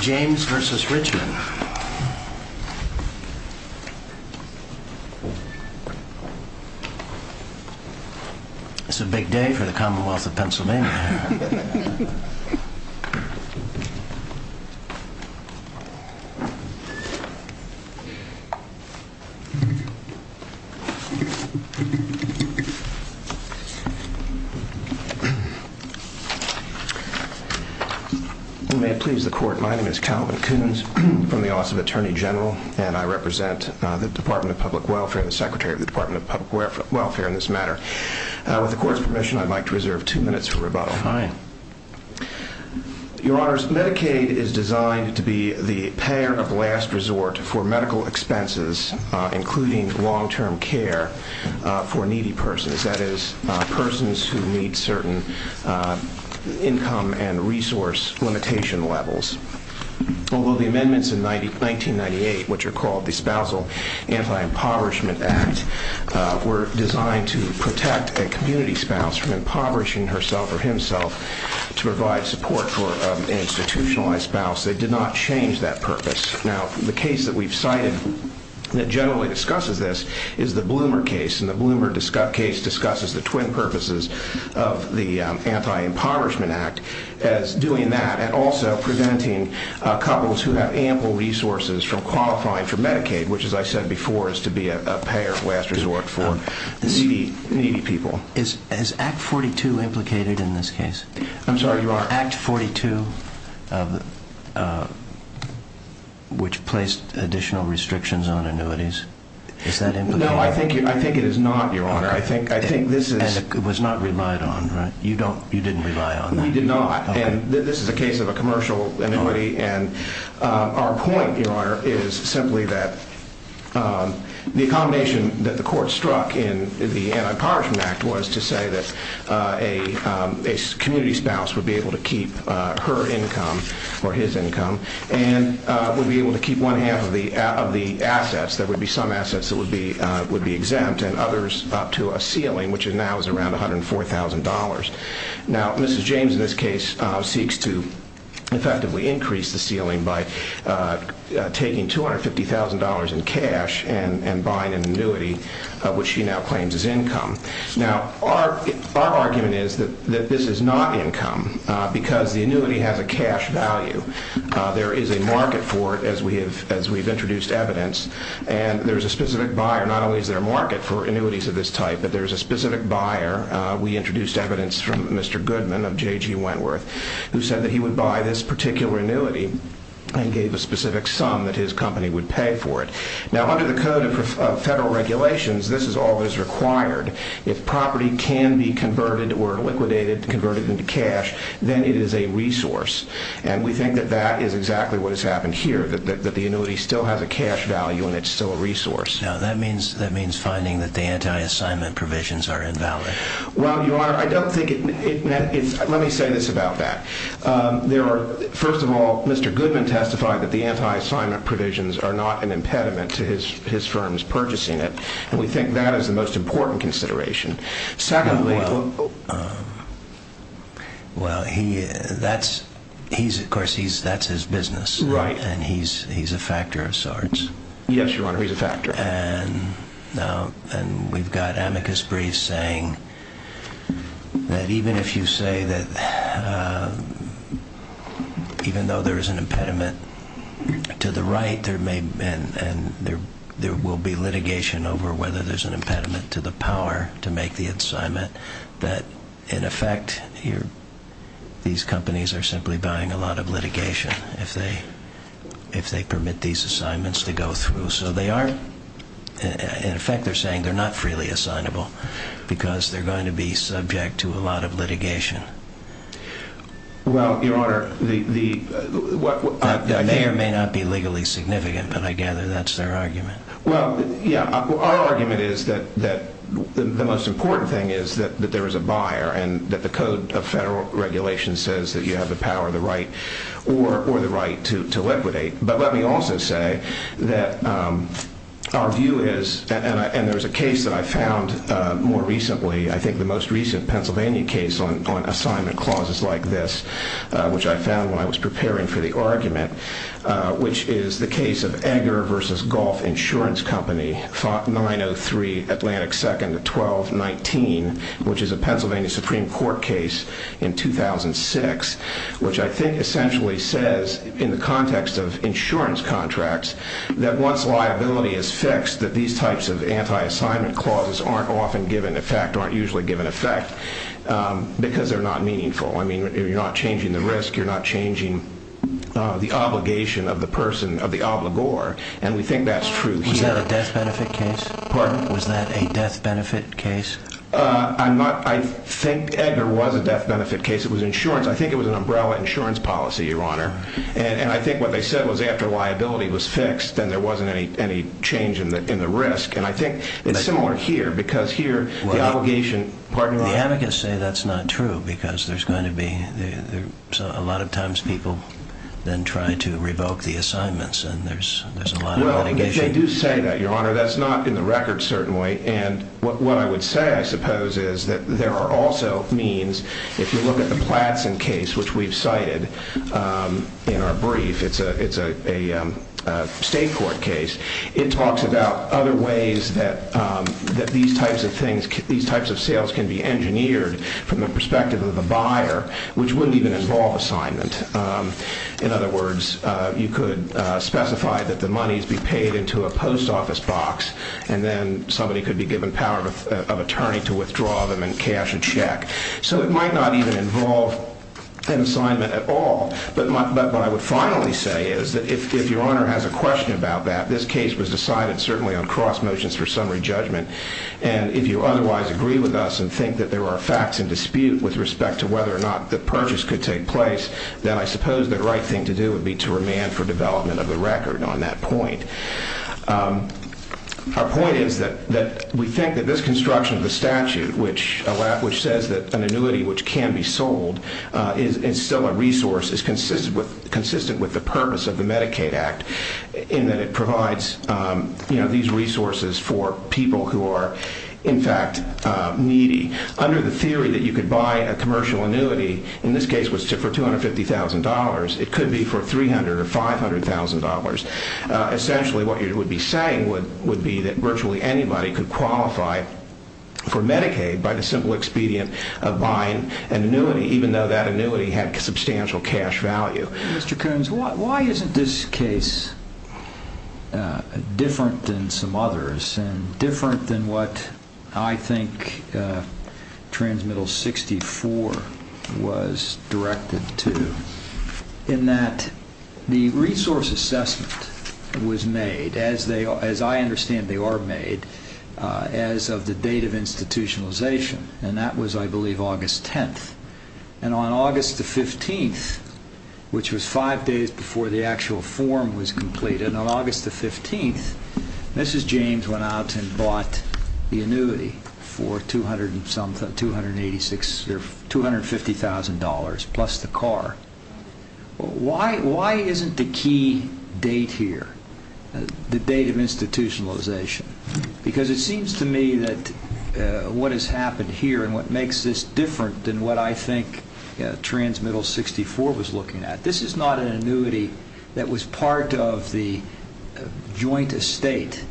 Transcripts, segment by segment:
James v. Richman It's a big day for the Commonwealth of Pennsylvania. May it please the Court, my name is Calvin Coons from the Office of Attorney General and I represent the Department of Public Welfare and the Secretary of the Department of Public Welfare in this matter. With the Court's permission, I'd like to reserve two minutes for rebuttal. Your Honors, Medicaid is designed to be the payer of last resort for medical expenses, including long-term care for needy persons, that is, persons who meet certain income and resource limitation levels. Although the amendments in 1998, which are called the Spousal Anti-Impoverishment Act, were designed to protect a community spouse from impoverishing herself or himself, to provide support for an institutionalized spouse, they did not change that purpose. Now, the case that we've cited that generally discusses this is the Bloomer case, and the Bloomer case discusses the twin purposes of the Anti-Impoverishment Act as doing that and also preventing couples who have ample resources from qualifying for Medicaid, which as I said before, is to be a payer of last resort for needy people. Is Act 42 implicated in this case? I'm sorry, Your Honor. Is Act 42, which placed additional restrictions on annuities, is that implicated? No, I think it is not, Your Honor. I think this is... And it was not relied on, right? You didn't rely on that? We did not. And this is a case of a commercial annuity, and our point, Your Honor, is simply that the accommodation that the court struck in the Anti-Impoverishment Act was to say that a community spouse would be able to keep her income, or his income, and would be able to keep one half of the assets, there would be some assets that would be exempt, and others up to a ceiling, which now is around $104,000. Now, Mrs. James, in this case, seeks to effectively increase the ceiling by taking $250,000 in cash and buying an annuity, which she now claims is income. Now, our argument is that this is not income, because the annuity has a cash value. There is a market for it, as we've introduced evidence, and there's a specific buyer, not only is there a market for annuities of this type, but there's a specific buyer. We introduced evidence from Mr. Goodman of J.G. Wentworth, who said that he would buy this particular annuity and gave a specific sum that his company would pay for it. Now, under the code of federal regulations, this is all that is required. If property can be converted or liquidated, converted into cash, then it is a resource. And we think that that is exactly what has happened here, that the annuity still has a cash value and it's still a resource. Now, that means finding that the anti-assignment provisions are invalid. Well, Your Honor, I don't think it... Let me say this about that. First of all, Mr. Goodman testified that the anti-assignment provisions are not an impediment to his firm's purchasing it, and we think that is the most important consideration. Secondly... Well, he... Of course, that's his business. Right. And he's a factor of sorts. Yes, Your Honor, he's a factor. And we've got amicus briefs saying that even if you say that even though there is an impediment to the right and there will be litigation over whether there's an impediment to the power to make the assignment, that in effect, these companies are simply buying a lot of litigation if they permit these assignments to go through. So they are... In effect, they're saying they're not freely assignable because they're going to be subject to a lot of litigation. Well, Your Honor, the... That may or may not be legally significant, but I gather that's their argument. Well, yeah. Our argument is that the most important thing is that there is a buyer and that the code of federal regulation says that you have the power, the right, or the right to liquidate. But let me also say that our view is... And there's a case that I found more recently, I think the most recent Pennsylvania case on assignment clauses like this, which I found when I was preparing for the argument, which is the case of Edgar v. Golf Insurance Company, 903 Atlantic 2nd of 1219, which is a Pennsylvania Supreme Court case in 2006, which I think essentially says, in the context of insurance contracts, that once liability is fixed, that these types of anti-assignment clauses aren't often given effect, aren't usually given effect, because they're not meaningful. I mean, you're not changing the risk, you're not changing the obligation of the person, of the obligor, and we think that's true here. Was that a death benefit case? Pardon? Was that a death benefit case? I'm not... I think Edgar was a death benefit case. It was insurance. I think it was an umbrella insurance policy, Your Honor. And I think what they said was after liability was fixed, then there wasn't any change in the risk. And I think it's similar here, because here the obligation... The advocates say that's not true, because there's going to be... A lot of times people then try to revoke the assignments, and there's a lot of litigation. Well, they do say that, Your Honor. That's not in the record, certainly. And what I would say, I suppose, is that there are also means, if you look at the Platson case, which we've cited in our brief, it's a state court case, it talks about other ways that these types of sales can be engineered from the perspective of the buyer, which wouldn't even involve assignment. In other words, you could specify that the monies be paid into a post office box, and then somebody could be given power of attorney to withdraw them and cash a check. So it might not even involve an assignment at all. But what I would finally say is that if Your Honor has a question about that, this case was decided certainly on cross motions for summary judgment, and if you otherwise agree with us and think that there are facts in dispute with respect to whether or not the purchase could take place, then I suppose the right thing to do would be to remand for development of the record on that point. Our point is that we think that this construction of the statute, which says that an annuity which can be sold is still a resource, is consistent with the purpose of the Medicaid Act, in that it provides these resources for people who are, in fact, needy. Under the theory that you could buy a commercial annuity, in this case for $250,000, it could be for $300,000 or $500,000, essentially what you would be saying would be that virtually anybody could qualify for Medicaid by the simple expedient of buying an annuity, even though that annuity had substantial cash value. Mr. Coons, why isn't this case different than some others, and different than what I think Transmittal 64 was directed to, in that the resource assessment was made, as I understand they are made, as of the date of institutionalization, and that was, I believe, August 10th. And on August 15th, which was five days before the actual form was completed, on August 15th, Mrs. James went out and bought the annuity for $250,000 plus the car. Why isn't the key date here the date of institutionalization? Because it seems to me that what has happened here and what makes this different than what I think Transmittal 64 was looking at, this is not an annuity that was part of the joint estate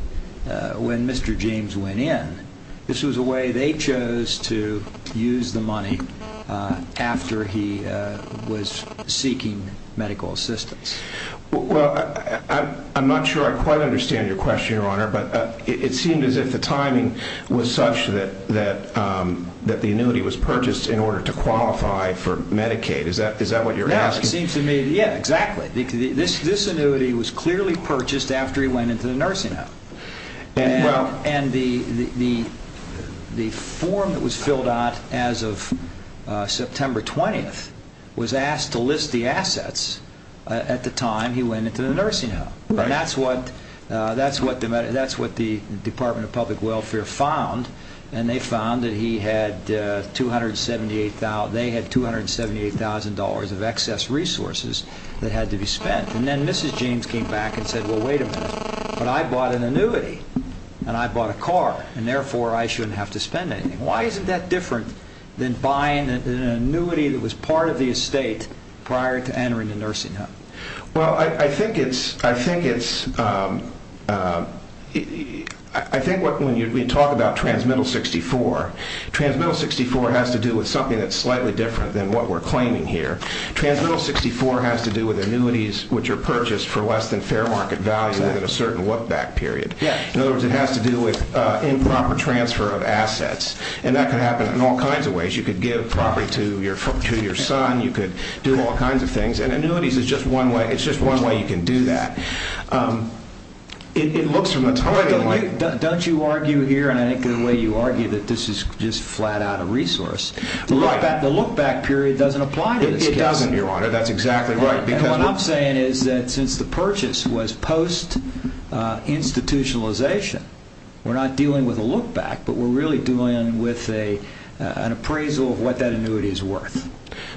when Mr. James went in. This was a way they chose to use the money after he was seeking medical assistance. Well, I'm not sure I quite understand your question, Your Honor, but it seemed as if the timing was such that the annuity was purchased in order to qualify for Medicaid. Is that what you're asking? Yeah, exactly. This annuity was clearly purchased after he went into the nursing home. And the form that was filled out as of September 20th was asked to list the assets at the time he went into the nursing home. And that's what the Department of Public Welfare found, and they found that they had $278,000 of excess resources that had to be spent. And then Mrs. James came back and said, well, wait a minute, but I bought an annuity, and I bought a car, and therefore I shouldn't have to spend anything. Why isn't that different than buying an annuity that was part of the estate prior to entering the nursing home? Well, I think it's – I think when we talk about Transmittal 64, Transmittal 64 has to do with annuities which are purchased for less than fair market value within a certain look-back period. In other words, it has to do with improper transfer of assets. And that could happen in all kinds of ways. You could give property to your son. You could do all kinds of things. And annuities is just one way – it's just one way you can do that. It looks from the timing like – Don't you argue here, and I think the way you argue that this is just flat-out a resource. Right. The look-back period doesn't apply to this case. It doesn't, Your Honor. That's exactly right. And what I'm saying is that since the purchase was post-institutionalization, we're not dealing with a look-back, but we're really dealing with an appraisal of what that annuity is worth.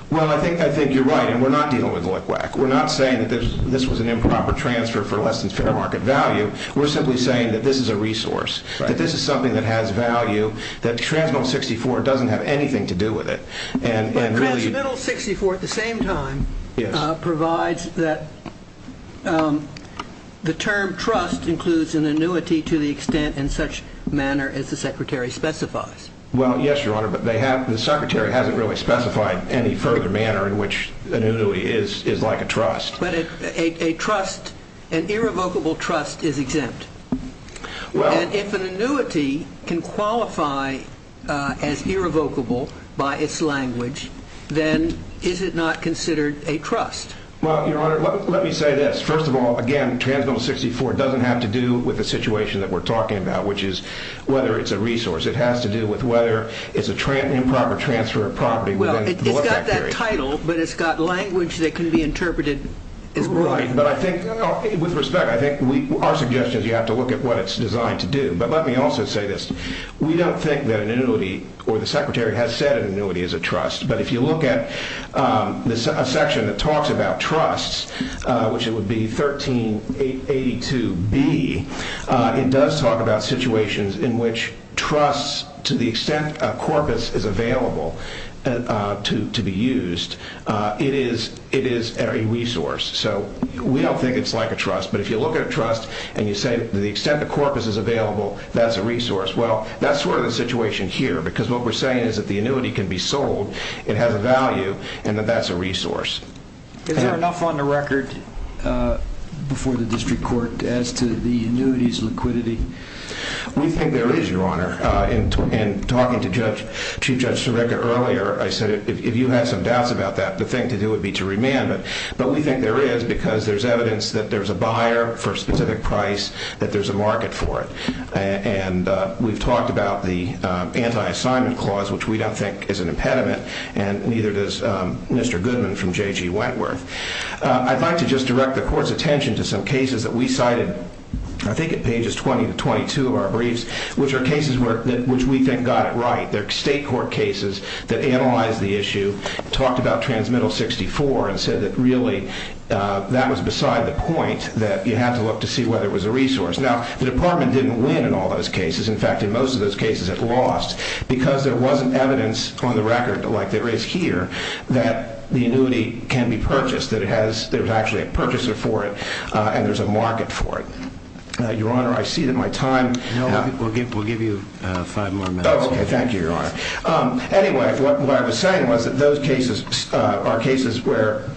Well, I think you're right, and we're not dealing with look-back. We're not saying that this was an improper transfer for less than fair market value. We're simply saying that this is a resource, that this is something that has value, that Transmittal 64 at the same time provides that the term trust includes an annuity to the extent and such manner as the Secretary specifies. Well, yes, Your Honor, but the Secretary hasn't really specified any further manner in which an annuity is like a trust. But an irrevocable trust is exempt. And if an annuity can qualify as irrevocable by its language, then is it not considered a trust? Well, Your Honor, let me say this. First of all, again, Transmittal 64 doesn't have to do with the situation that we're talking about, which is whether it's a resource. It has to do with whether it's an improper transfer of property within the look-back period. Well, it's got that title, but it's got language that can be interpreted as wrong. But I think, with respect, I think our suggestion is you have to look at what it's designed to do. But let me also say this. We don't think that an annuity or the Secretary has said an annuity is a trust. But if you look at a section that talks about trusts, which it would be 1382B, it does talk about situations in which trusts, to the extent a corpus is available to be used, it is a resource. So we don't think it's like a trust. But if you look at a trust and you say, to the extent a corpus is available, that's a resource. Well, that's sort of the situation here, because what we're saying is that the annuity can be sold, it has a value, and that that's a resource. Is there enough on the record before the District Court as to the annuity's liquidity? We think there is, Your Honor. In talking to Chief Judge Sirica earlier, I said, if you have some doubts about that, the thing to do would be to remand it. But we think there is, because there's evidence that there's a buyer for a specific price, that there's a market for it. And we've talked about the anti-assignment clause, which we don't think is an impediment, and neither does Mr. Goodman from J.G. Wentworth. I'd like to just direct the Court's attention to some cases that we cited, I think at pages 20 to 22 of our briefs, which are cases which we think got it right. They're state court cases that analyzed the issue, talked about Transmittal 64, and said that really that was beside the point, that you had to look to see whether it was a resource. Now, the Department didn't win in all those cases. In fact, in most of those cases, it lost, because there wasn't evidence on the record, like there is here, that the annuity can be purchased, that it has, there's actually a purchaser for it, and there's a market for it. Your Honor, I see that my time... No, we'll give you five more minutes. Oh, okay, thank you, Your Honor. Anyway, what I was saying was that those cases are cases where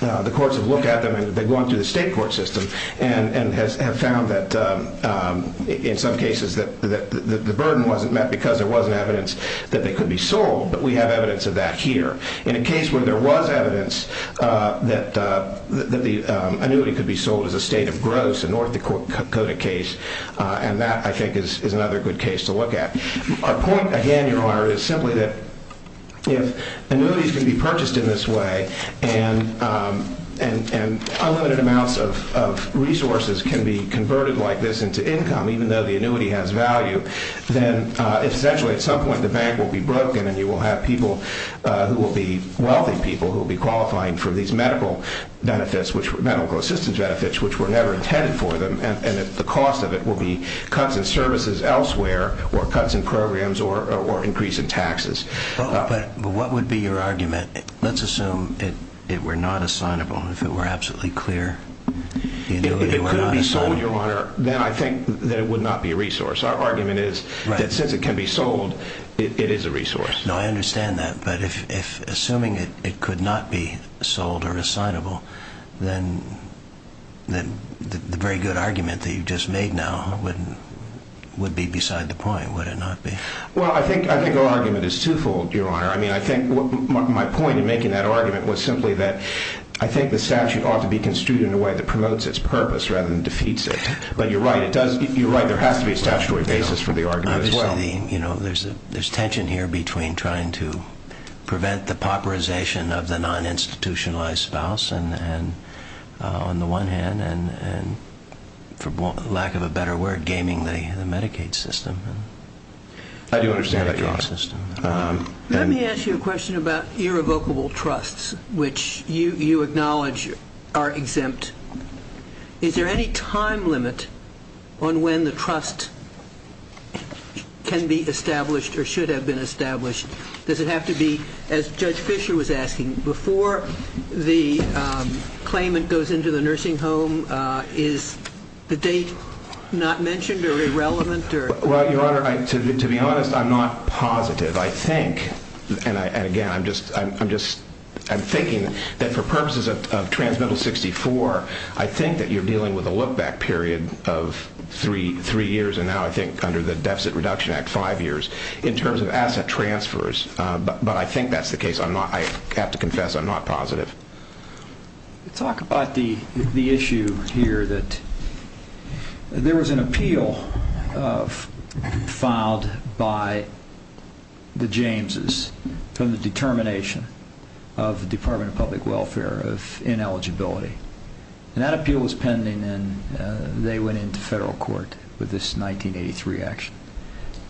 the courts have looked at them, and they've gone through the state court system, and have found that in some cases that the burden wasn't met, because there wasn't evidence that they could be sold, but we have evidence of that here. In a case where there was evidence that the annuity could be sold as a state of gross, a North Dakota case, and that, I think, is another good case to look at. Our point, again, Your Honor, is simply that if annuities can be purchased in this way, and unlimited amounts of resources can be converted like this into income, even though the annuity has value, then essentially, at some point, the bank will be broken, and you will have people who will be wealthy people, who will be qualifying for these medical benefits, which were medical assistance benefits, which were never intended for them, and that the or increase in taxes. But what would be your argument? Let's assume it were not assignable, if it were absolutely clear. If it could be sold, Your Honor, then I think that it would not be a resource. Our argument is that since it can be sold, it is a resource. No, I understand that, but if assuming it could not be sold or assignable, then the very good argument that you just made now would be beside the point, would it not be? Well, I think our argument is twofold, Your Honor. I think my point in making that argument was simply that I think the statute ought to be construed in a way that promotes its purpose rather than defeats it. But you're right. You're right. There has to be a statutory basis for the argument as well. Obviously, there's tension here between trying to prevent the pauperization of the uninstitutionalized spouse and, on the one hand, and for lack of a better word, gaming the Medicaid system. I do understand that, Your Honor. Let me ask you a question about irrevocable trusts, which you acknowledge are exempt. Is there any time limit on when the trust can be established or should have been established? Does it have to be, as Judge Fischer was asking, before the claimant goes into the nursing home? Is the date not mentioned or irrelevant? Well, Your Honor, to be honest, I'm not positive. I think, and again, I'm thinking that for purposes of Transmittal 64, I think that you're dealing with a look-back period of three years, and now I think under the Deficit Reduction Act, five years, in terms of asset transfers. But I think that's the case. I have to confess I'm not positive. Talk about the issue here that there was an appeal filed by the Jameses from the determination of the Department of Public Welfare of ineligibility. That appeal was pending, and they went into federal court with this 1983 action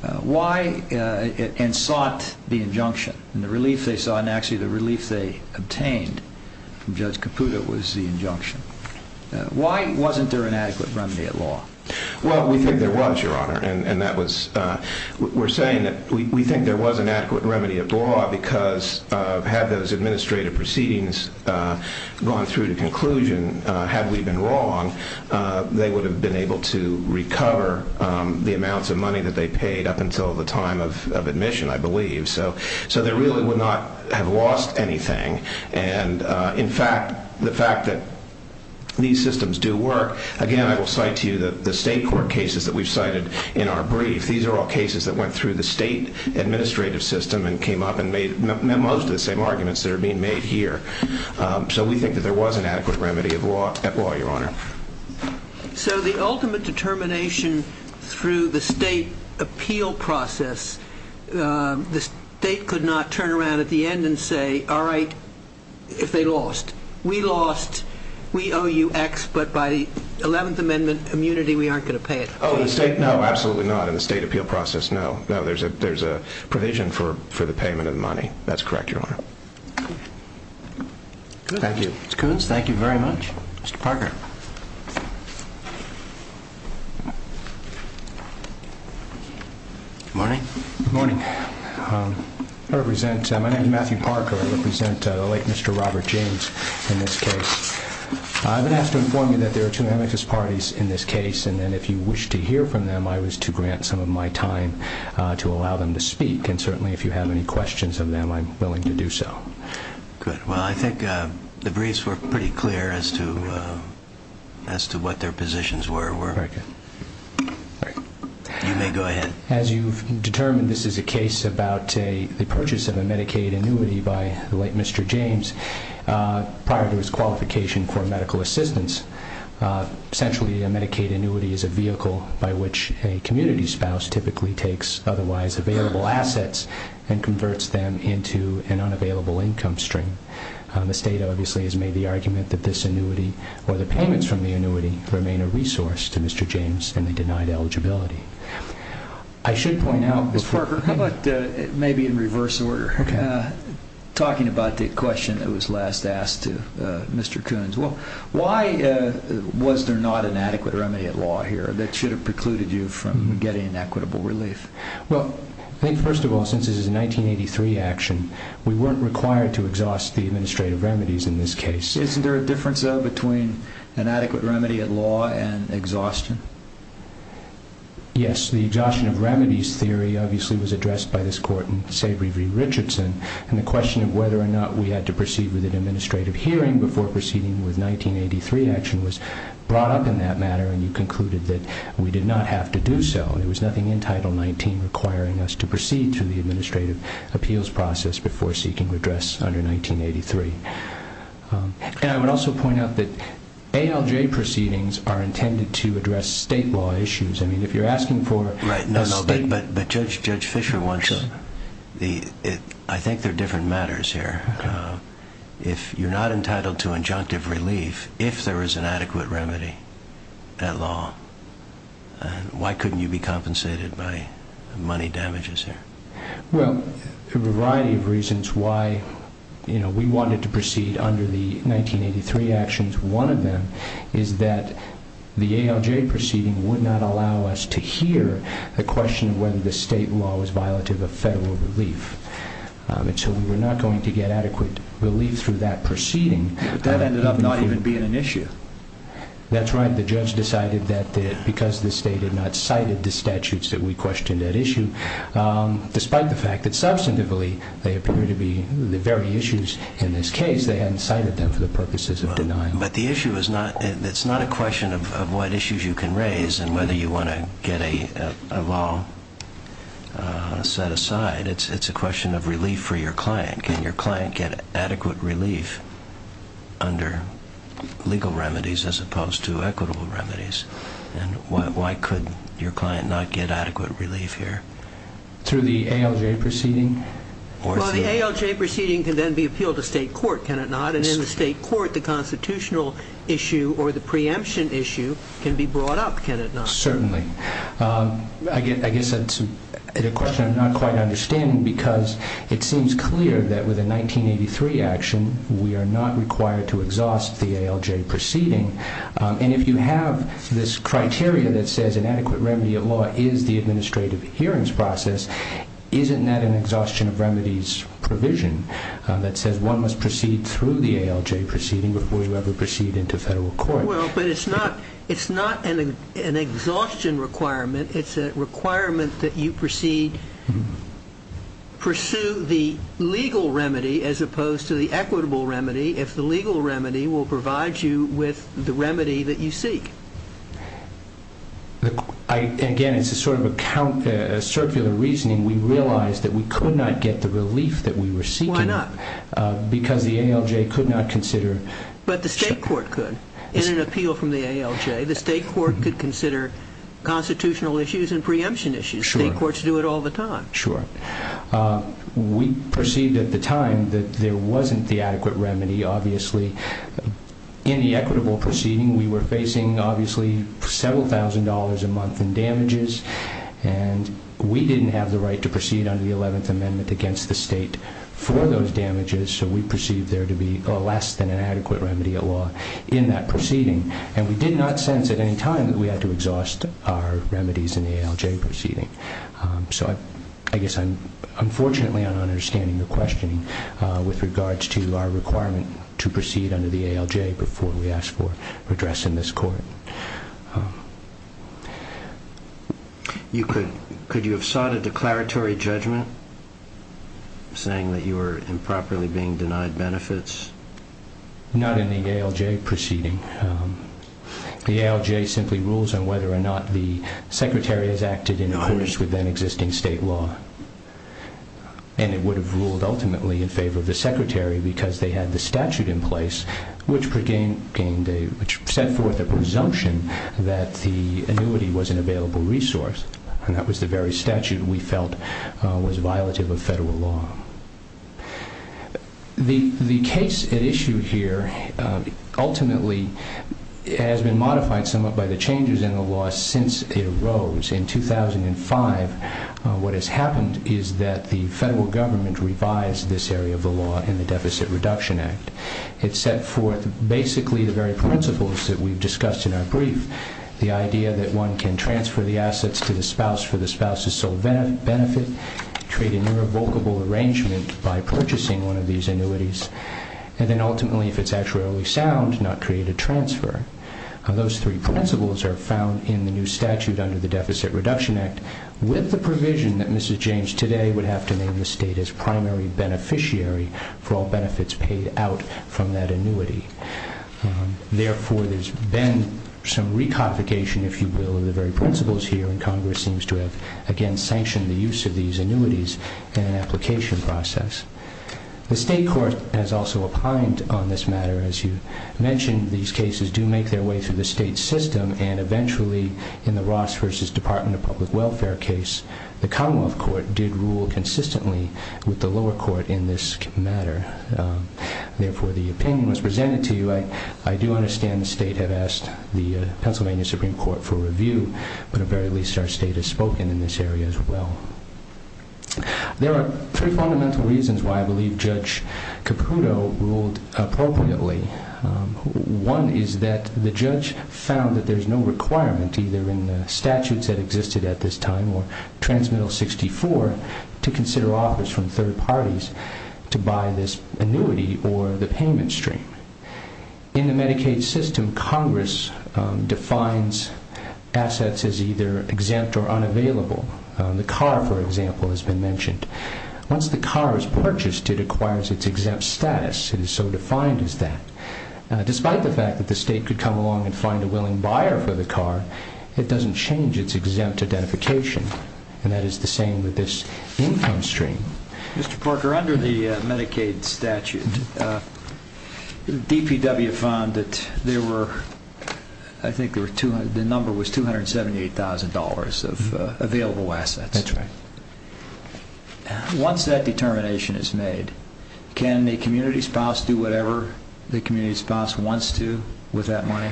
and sought the injunction. The relief they sought and actually the relief they obtained from Judge Caputo was the injunction. Why wasn't there an adequate remedy at law? Well, we think there was, Your Honor, and we're saying that we think there was an adequate remedy at law because had those administrative proceedings gone through to conclusion, had we been wrong, they would have been able to recover the amounts of money that they paid up until the time of admission, I believe. So they really would not have lost anything. And, in fact, the fact that these systems do work, again, I will cite to you the state court cases that we've cited in our brief. These are all cases that went through the state administrative system and came up and made most of the same arguments that are being made here. So we think that there was an adequate remedy at law, Your Honor. So the ultimate determination through the state appeal process, the state could not turn around at the end and say, all right, if they lost. We lost, we owe you X, but by the 11th Amendment immunity, we aren't going to pay it. Oh, in the state? No, absolutely not. In the state appeal process, no. No, there's a provision for the payment of the money. That's correct, Your Honor. Thank you. Ms. Coons, thank you very much. Mr. Parker. Good morning. Good morning. My name is Matthew Parker. I represent the late Mr. Robert James in this case. I've been asked to inform you that there are two amicus parties in this case, and then if you wish to hear from them, I was to grant some of my time to allow them to speak. And certainly if you have any questions of them, I'm willing to do so. Good. Well, I think the briefs were pretty clear as to what their positions were. Very good. You may go ahead. As you've determined, this is a case about the purchase of a Medicaid annuity by the late Mr. James prior to his qualification for medical assistance. Essentially, a Medicaid annuity is a vehicle by which a community spouse typically takes otherwise available assets and converts them into an unavailable income stream. The State obviously has made the argument that this annuity or the payments from the annuity remain a resource to Mr. James and the denied eligibility. I should point out, Mr. Parker, how about maybe in reverse order, talking about the question that was last asked to Mr. Coons. Why was there not an adequate remedy at law here that should have precluded you from getting an equitable relief? Well, I think first of all, since this is a 1983 action, we weren't required to exhaust the administrative remedies in this case. Isn't there a difference, though, between an adequate remedy at law and exhaustion? Yes. The exhaustion of remedies theory obviously was addressed by this Court in Savory v. Richardson, and the question of whether or not we had to proceed with an administrative hearing before proceeding with a 1983 action was brought up in that matter, and you concluded that we did not have to do so. There was nothing in Title XIX requiring us to proceed through the administrative appeals process before seeking redress under 1983. And I would also point out that ALJ proceedings are intended to address State law issues. I mean, if you're asking for a State… Right, no, no, but Judge Fischer wants… I think they're different matters here. If you're not entitled to injunctive relief, if there is an adequate remedy at law, why couldn't you be compensated by money damages here? Well, there were a variety of reasons why we wanted to proceed under the 1983 actions. One of them is that the ALJ proceeding would not allow us to hear the question of whether the State law was violative of Federal relief. And so we were not going to get adequate relief through that proceeding. But that ended up not even being an issue. That's right. The Judge decided that because the State had not cited the statutes that we questioned at issue, despite the fact that substantively they appear to be the very issues in this case, they hadn't cited them for the purposes of denying them. But the issue is not… it's not a question of what issues you can raise and whether you want to get a law set aside. It's a question of relief for your client. Can your client get adequate relief under legal remedies as opposed to equitable remedies? And why could your client not get adequate relief here? Through the ALJ proceeding? Well, the ALJ proceeding can then be appealed to State court, can it not? And in the State court, the constitutional issue or the preemption issue can be brought up, can it not? Certainly. I guess it's a question I'm not quite understanding because it seems clear that with a 1983 action, we are not required to exhaust the ALJ proceeding. And if you have this criteria that says an adequate remedy of law is the administrative hearings process, isn't that an exhaustion of remedies provision that says one must proceed through the ALJ proceeding before you ever proceed into Federal court? Well, but it's not an exhaustion requirement. It's a requirement that you proceed, pursue the legal remedy as opposed to the equitable remedy if the legal remedy will provide you with the remedy that you seek. Again, it's a sort of a circular reasoning. We realize that we could not get the relief that we were seeking. Why not? Because the ALJ could not consider… But the State court could. In an appeal from the ALJ, the State court could consider constitutional issues and preemption issues. State courts do it all the time. Sure. We perceived at the time that there wasn't the adequate remedy, obviously. In the equitable proceeding, we were facing, obviously, several thousand dollars a month in damages, and we didn't have the right to proceed under the 11th Amendment against the State for those damages, so we perceived there to be less than an adequate remedy at law in that proceeding, and we did not sense at any time that we had to exhaust our remedies in the ALJ proceeding. So I guess I'm unfortunately not understanding your questioning with regards to our requirement to proceed under the ALJ before we ask for redress in this court. Could you have sought a declaratory judgment saying that you were improperly being denied benefits? Not in the ALJ proceeding. The ALJ simply rules on whether or not the Secretary has acted in accordance with then existing State law, and it would have ruled ultimately in favor of the Secretary because they had the statute in place which set forth a presumption that the annuity was an available resource, and that was the very statute we felt was violative of Federal law. The case at issue here ultimately has been modified somewhat by the changes in the law since it arose. In 2005, what has happened is that the Federal government revised this area of the law in the Deficit Reduction Act. It set forth basically the very principles that we've discussed in our brief, the idea that one can transfer the assets to the spouse for the spouse's sole benefit, create an irrevocable arrangement by purchasing one of these annuities, and then ultimately, if it's actuarially sound, not create a transfer. Those three principles are found in the new statute under the Deficit Reduction Act with the provision that Mrs. James today would have to name the State as primary beneficiary for all benefits paid out from that annuity. Therefore, there's been some reconfiguration, if you will, of the very principles here, and Congress seems to have, again, sanctioned the use of these annuities in an application process. The State court has also opined on this matter. As you mentioned, these cases do make their way through the State system, and eventually in the Ross v. Department of Public Welfare case, the Commonwealth court did rule consistently with the lower court in this matter. Therefore, the opinion was presented to you. I do understand the State had asked the Pennsylvania Supreme Court for review, but at the very least our State has spoken in this area as well. There are three fundamental reasons why I believe Judge Caputo ruled appropriately. One is that the judge found that there's no requirement, either in the statutes that existed at this time or Transmittal 64, to consider offers from third parties to buy this annuity or the payment stream. In the Medicaid system, Congress defines assets as either exempt or unavailable. The car, for example, has been mentioned. Once the car is purchased, it acquires its exempt status. It is so defined as that. Despite the fact that the State could come along and find a willing buyer for the car, it doesn't change its exempt identification, and that is the same with this income stream. Mr. Parker, under the Medicaid statute, DPW found that there were, I think the number was $278,000 of available assets. Once that determination is made, can the community spouse do whatever the community spouse wants to with that money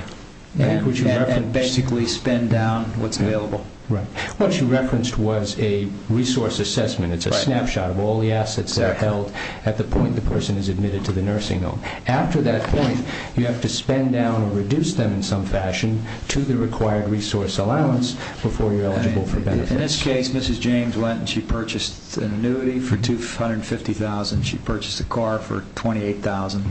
and basically spend down what's available? What you referenced was a resource assessment. It's a snapshot of all the assets that are held at the point the person is admitted to the nursing home. After that point, you have to spend down or reduce them in some fashion to the required resource allowance before you're eligible for benefits. In this case, Mrs. James went and she purchased an annuity for $250,000. She purchased a car for $28,000.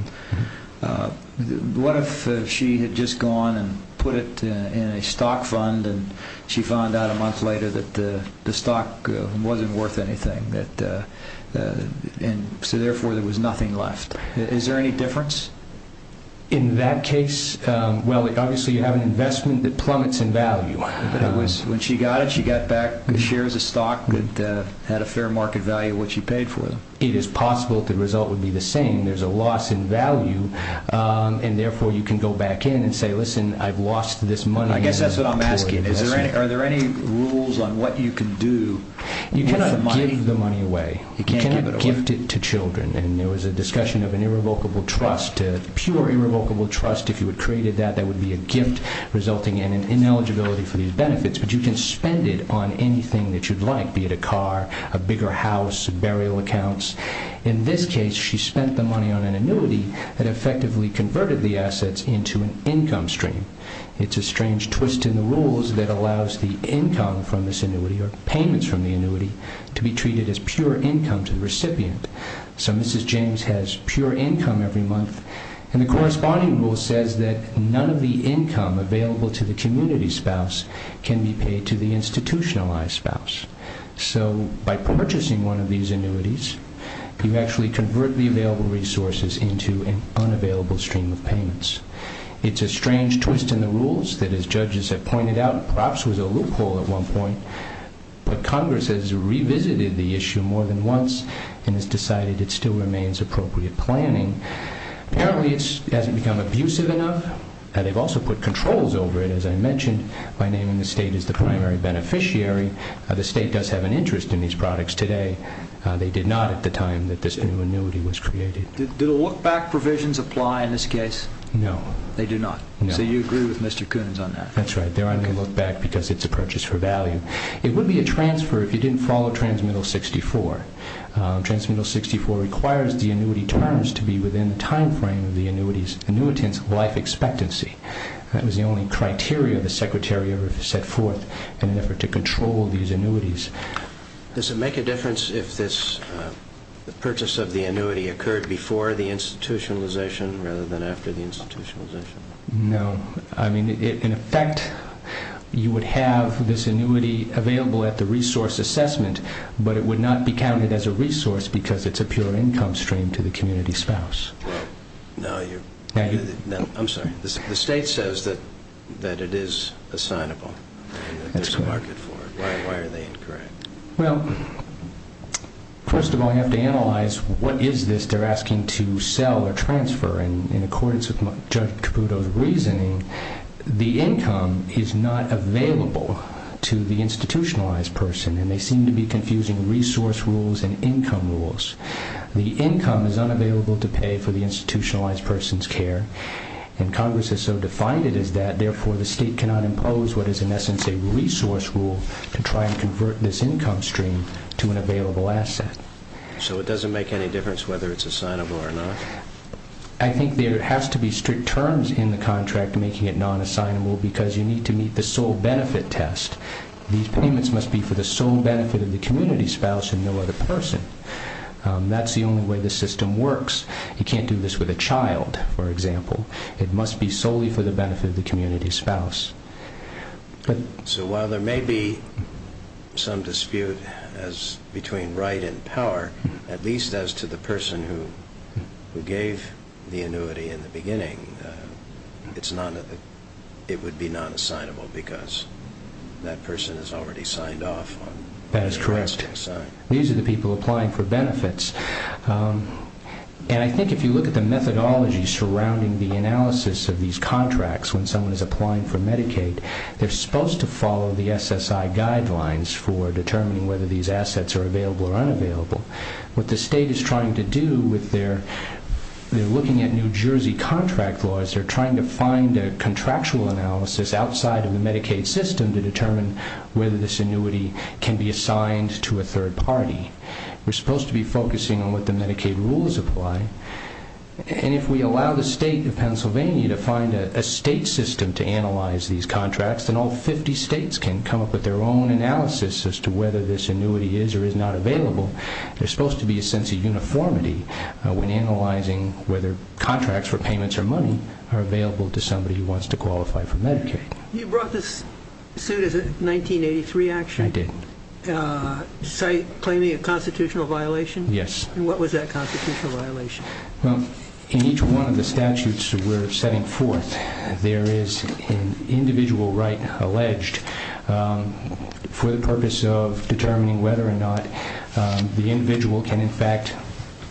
What if she had just gone and put it in a stock fund, and she found out a month later that the stock wasn't worth anything, and so therefore there was nothing left? Is there any difference? In that case, well, obviously you have an investment that plummets in value. But when she got it, she got back shares of stock that had a fair market value of what she paid for them. It is possible that the result would be the same. There's a loss in value, and therefore you can go back in and say, listen, I've lost this money. I guess that's what I'm asking. Are there any rules on what you can do? You cannot give the money away. You can't give it away? You cannot gift it to children. There was a discussion of an irrevocable trust, a pure irrevocable trust. If you had created that, that would be a gift resulting in an ineligibility for these benefits. But you can spend it on anything that you'd like, be it a car, a bigger house, burial accounts. In this case, she spent the money on an annuity that effectively converted the assets into an income stream. It's a strange twist in the rules that allows the income from this annuity or payments from the annuity to be treated as pure income to the recipient. So Mrs. James has pure income every month. And the corresponding rule says that none of the income available to the community spouse can be paid to the institutionalized spouse. So by purchasing one of these annuities, you actually convert the available resources into an unavailable stream of payments. It's a strange twist in the rules that, as judges have pointed out, perhaps was a loophole at one point, but Congress has revisited the issue more than once and has decided it still remains appropriate planning. Apparently it hasn't become abusive enough. They've also put controls over it, as I mentioned, by naming the state as the primary beneficiary. The state does have an interest in these products today. They did not at the time that this new annuity was created. Did a look-back provisions apply in this case? No. They do not? No. So you agree with Mr. Coons on that? That's right. They're on the look-back because it's a purchase for value. It would be a transfer if you didn't follow Transmittal 64. Transmittal 64 requires the annuity terms to be within the timeframe of the annuitant's life expectancy. That was the only criteria the Secretary ever set forth in an effort to control these annuities. Does it make a difference if the purchase of the annuity occurred before the institutionalization rather than after the institutionalization? No. I mean, in effect, you would have this annuity available at the resource assessment, but it would not be counted as a resource because it's a pure income stream to the community spouse. No. I'm sorry. The state says that it is assignable. That's right. There's a market for it. Why are they incorrect? Well, first of all, you have to analyze what is this they're asking to sell or transfer. In accordance with Judge Caputo's reasoning, the income is not available to the institutionalized person, and they seem to be confusing resource rules and income rules. The income is unavailable to pay for the institutionalized person's care, and Congress has so defined it as that, therefore the state cannot impose what is in essence a resource rule to try and convert this income stream to an available asset. So it doesn't make any difference whether it's assignable or not? I think there has to be strict terms in the contract making it non-assignable because you need to meet the sole benefit test. These payments must be for the sole benefit of the community spouse and no other person. That's the only way the system works. You can't do this with a child, for example. It must be solely for the benefit of the community spouse. So while there may be some dispute between right and power, at least as to the person who gave the annuity in the beginning, it would be non-assignable because that person has already signed off. That is correct. And I think if you look at the methodology surrounding the analysis of these contracts when someone is applying for Medicaid, they're supposed to follow the SSI guidelines for determining whether these assets are available or unavailable. What the state is trying to do with their looking at New Jersey contract laws, they're trying to find a contractual analysis outside of the Medicaid system to determine whether this annuity can be assigned to a third party. We're supposed to be focusing on what the Medicaid rules apply. And if we allow the state of Pennsylvania to find a state system to analyze these contracts, then all 50 states can come up with their own analysis as to whether this annuity is or is not available. There's supposed to be a sense of uniformity when analyzing whether contracts for payments or money are available to somebody who wants to qualify for Medicaid. You brought this suit, is it 1983, actually? I did. Claiming a constitutional violation? Yes. And what was that constitutional violation? Well, in each one of the statutes we're setting forth, there is an individual right alleged for the purpose of determining whether or not the individual can, in fact,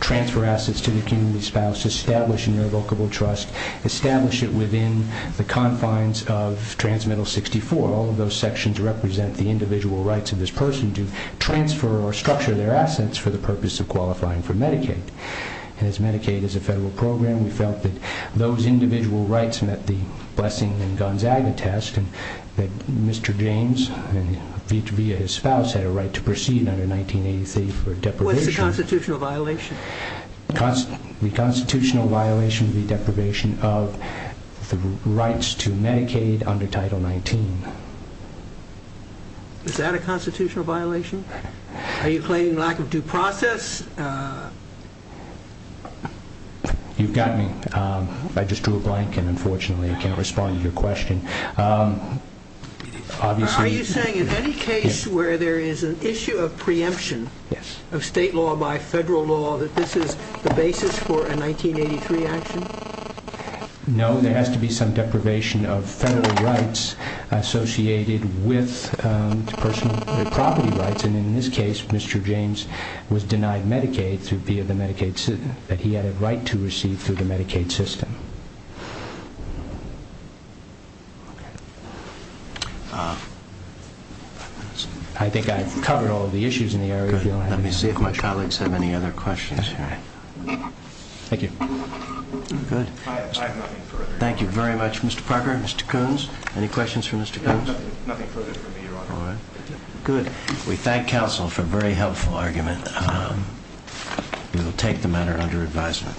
transfer assets to the community spouse, establish an irrevocable trust, establish it within the confines of Transmittal 64. All of those sections represent the individual rights of this person to transfer or structure their assets for the purpose of qualifying for Medicaid. And as Medicaid is a federal program, we felt that those individual rights met the Blessing and Gonzaga test, and that Mr. James, via his spouse, had a right to proceed under 1983 for deprivation. What's the constitutional violation? The constitutional violation would be deprivation of the rights to Medicaid under Title 19. Is that a constitutional violation? Are you claiming lack of due process? You've got me. I just drew a blank and, unfortunately, I can't respond to your question. Are you saying in any case where there is an issue of preemption of state law by federal law that this is the basis for a 1983 action? No, there has to be some deprivation of federal rights associated with personal property rights. And in this case, Mr. James was denied Medicaid via the Medicaid system, but he had a right to receive through the Medicaid system. I think I've covered all of the issues in the area. Let me see if my colleagues have any other questions. Thank you. Good. I have nothing further. Thank you very much, Mr. Parker. Mr. Coons, any questions for Mr. Coons? Nothing further for me, Your Honor. Good. We thank counsel for a very helpful argument. We will take the matter under advisement.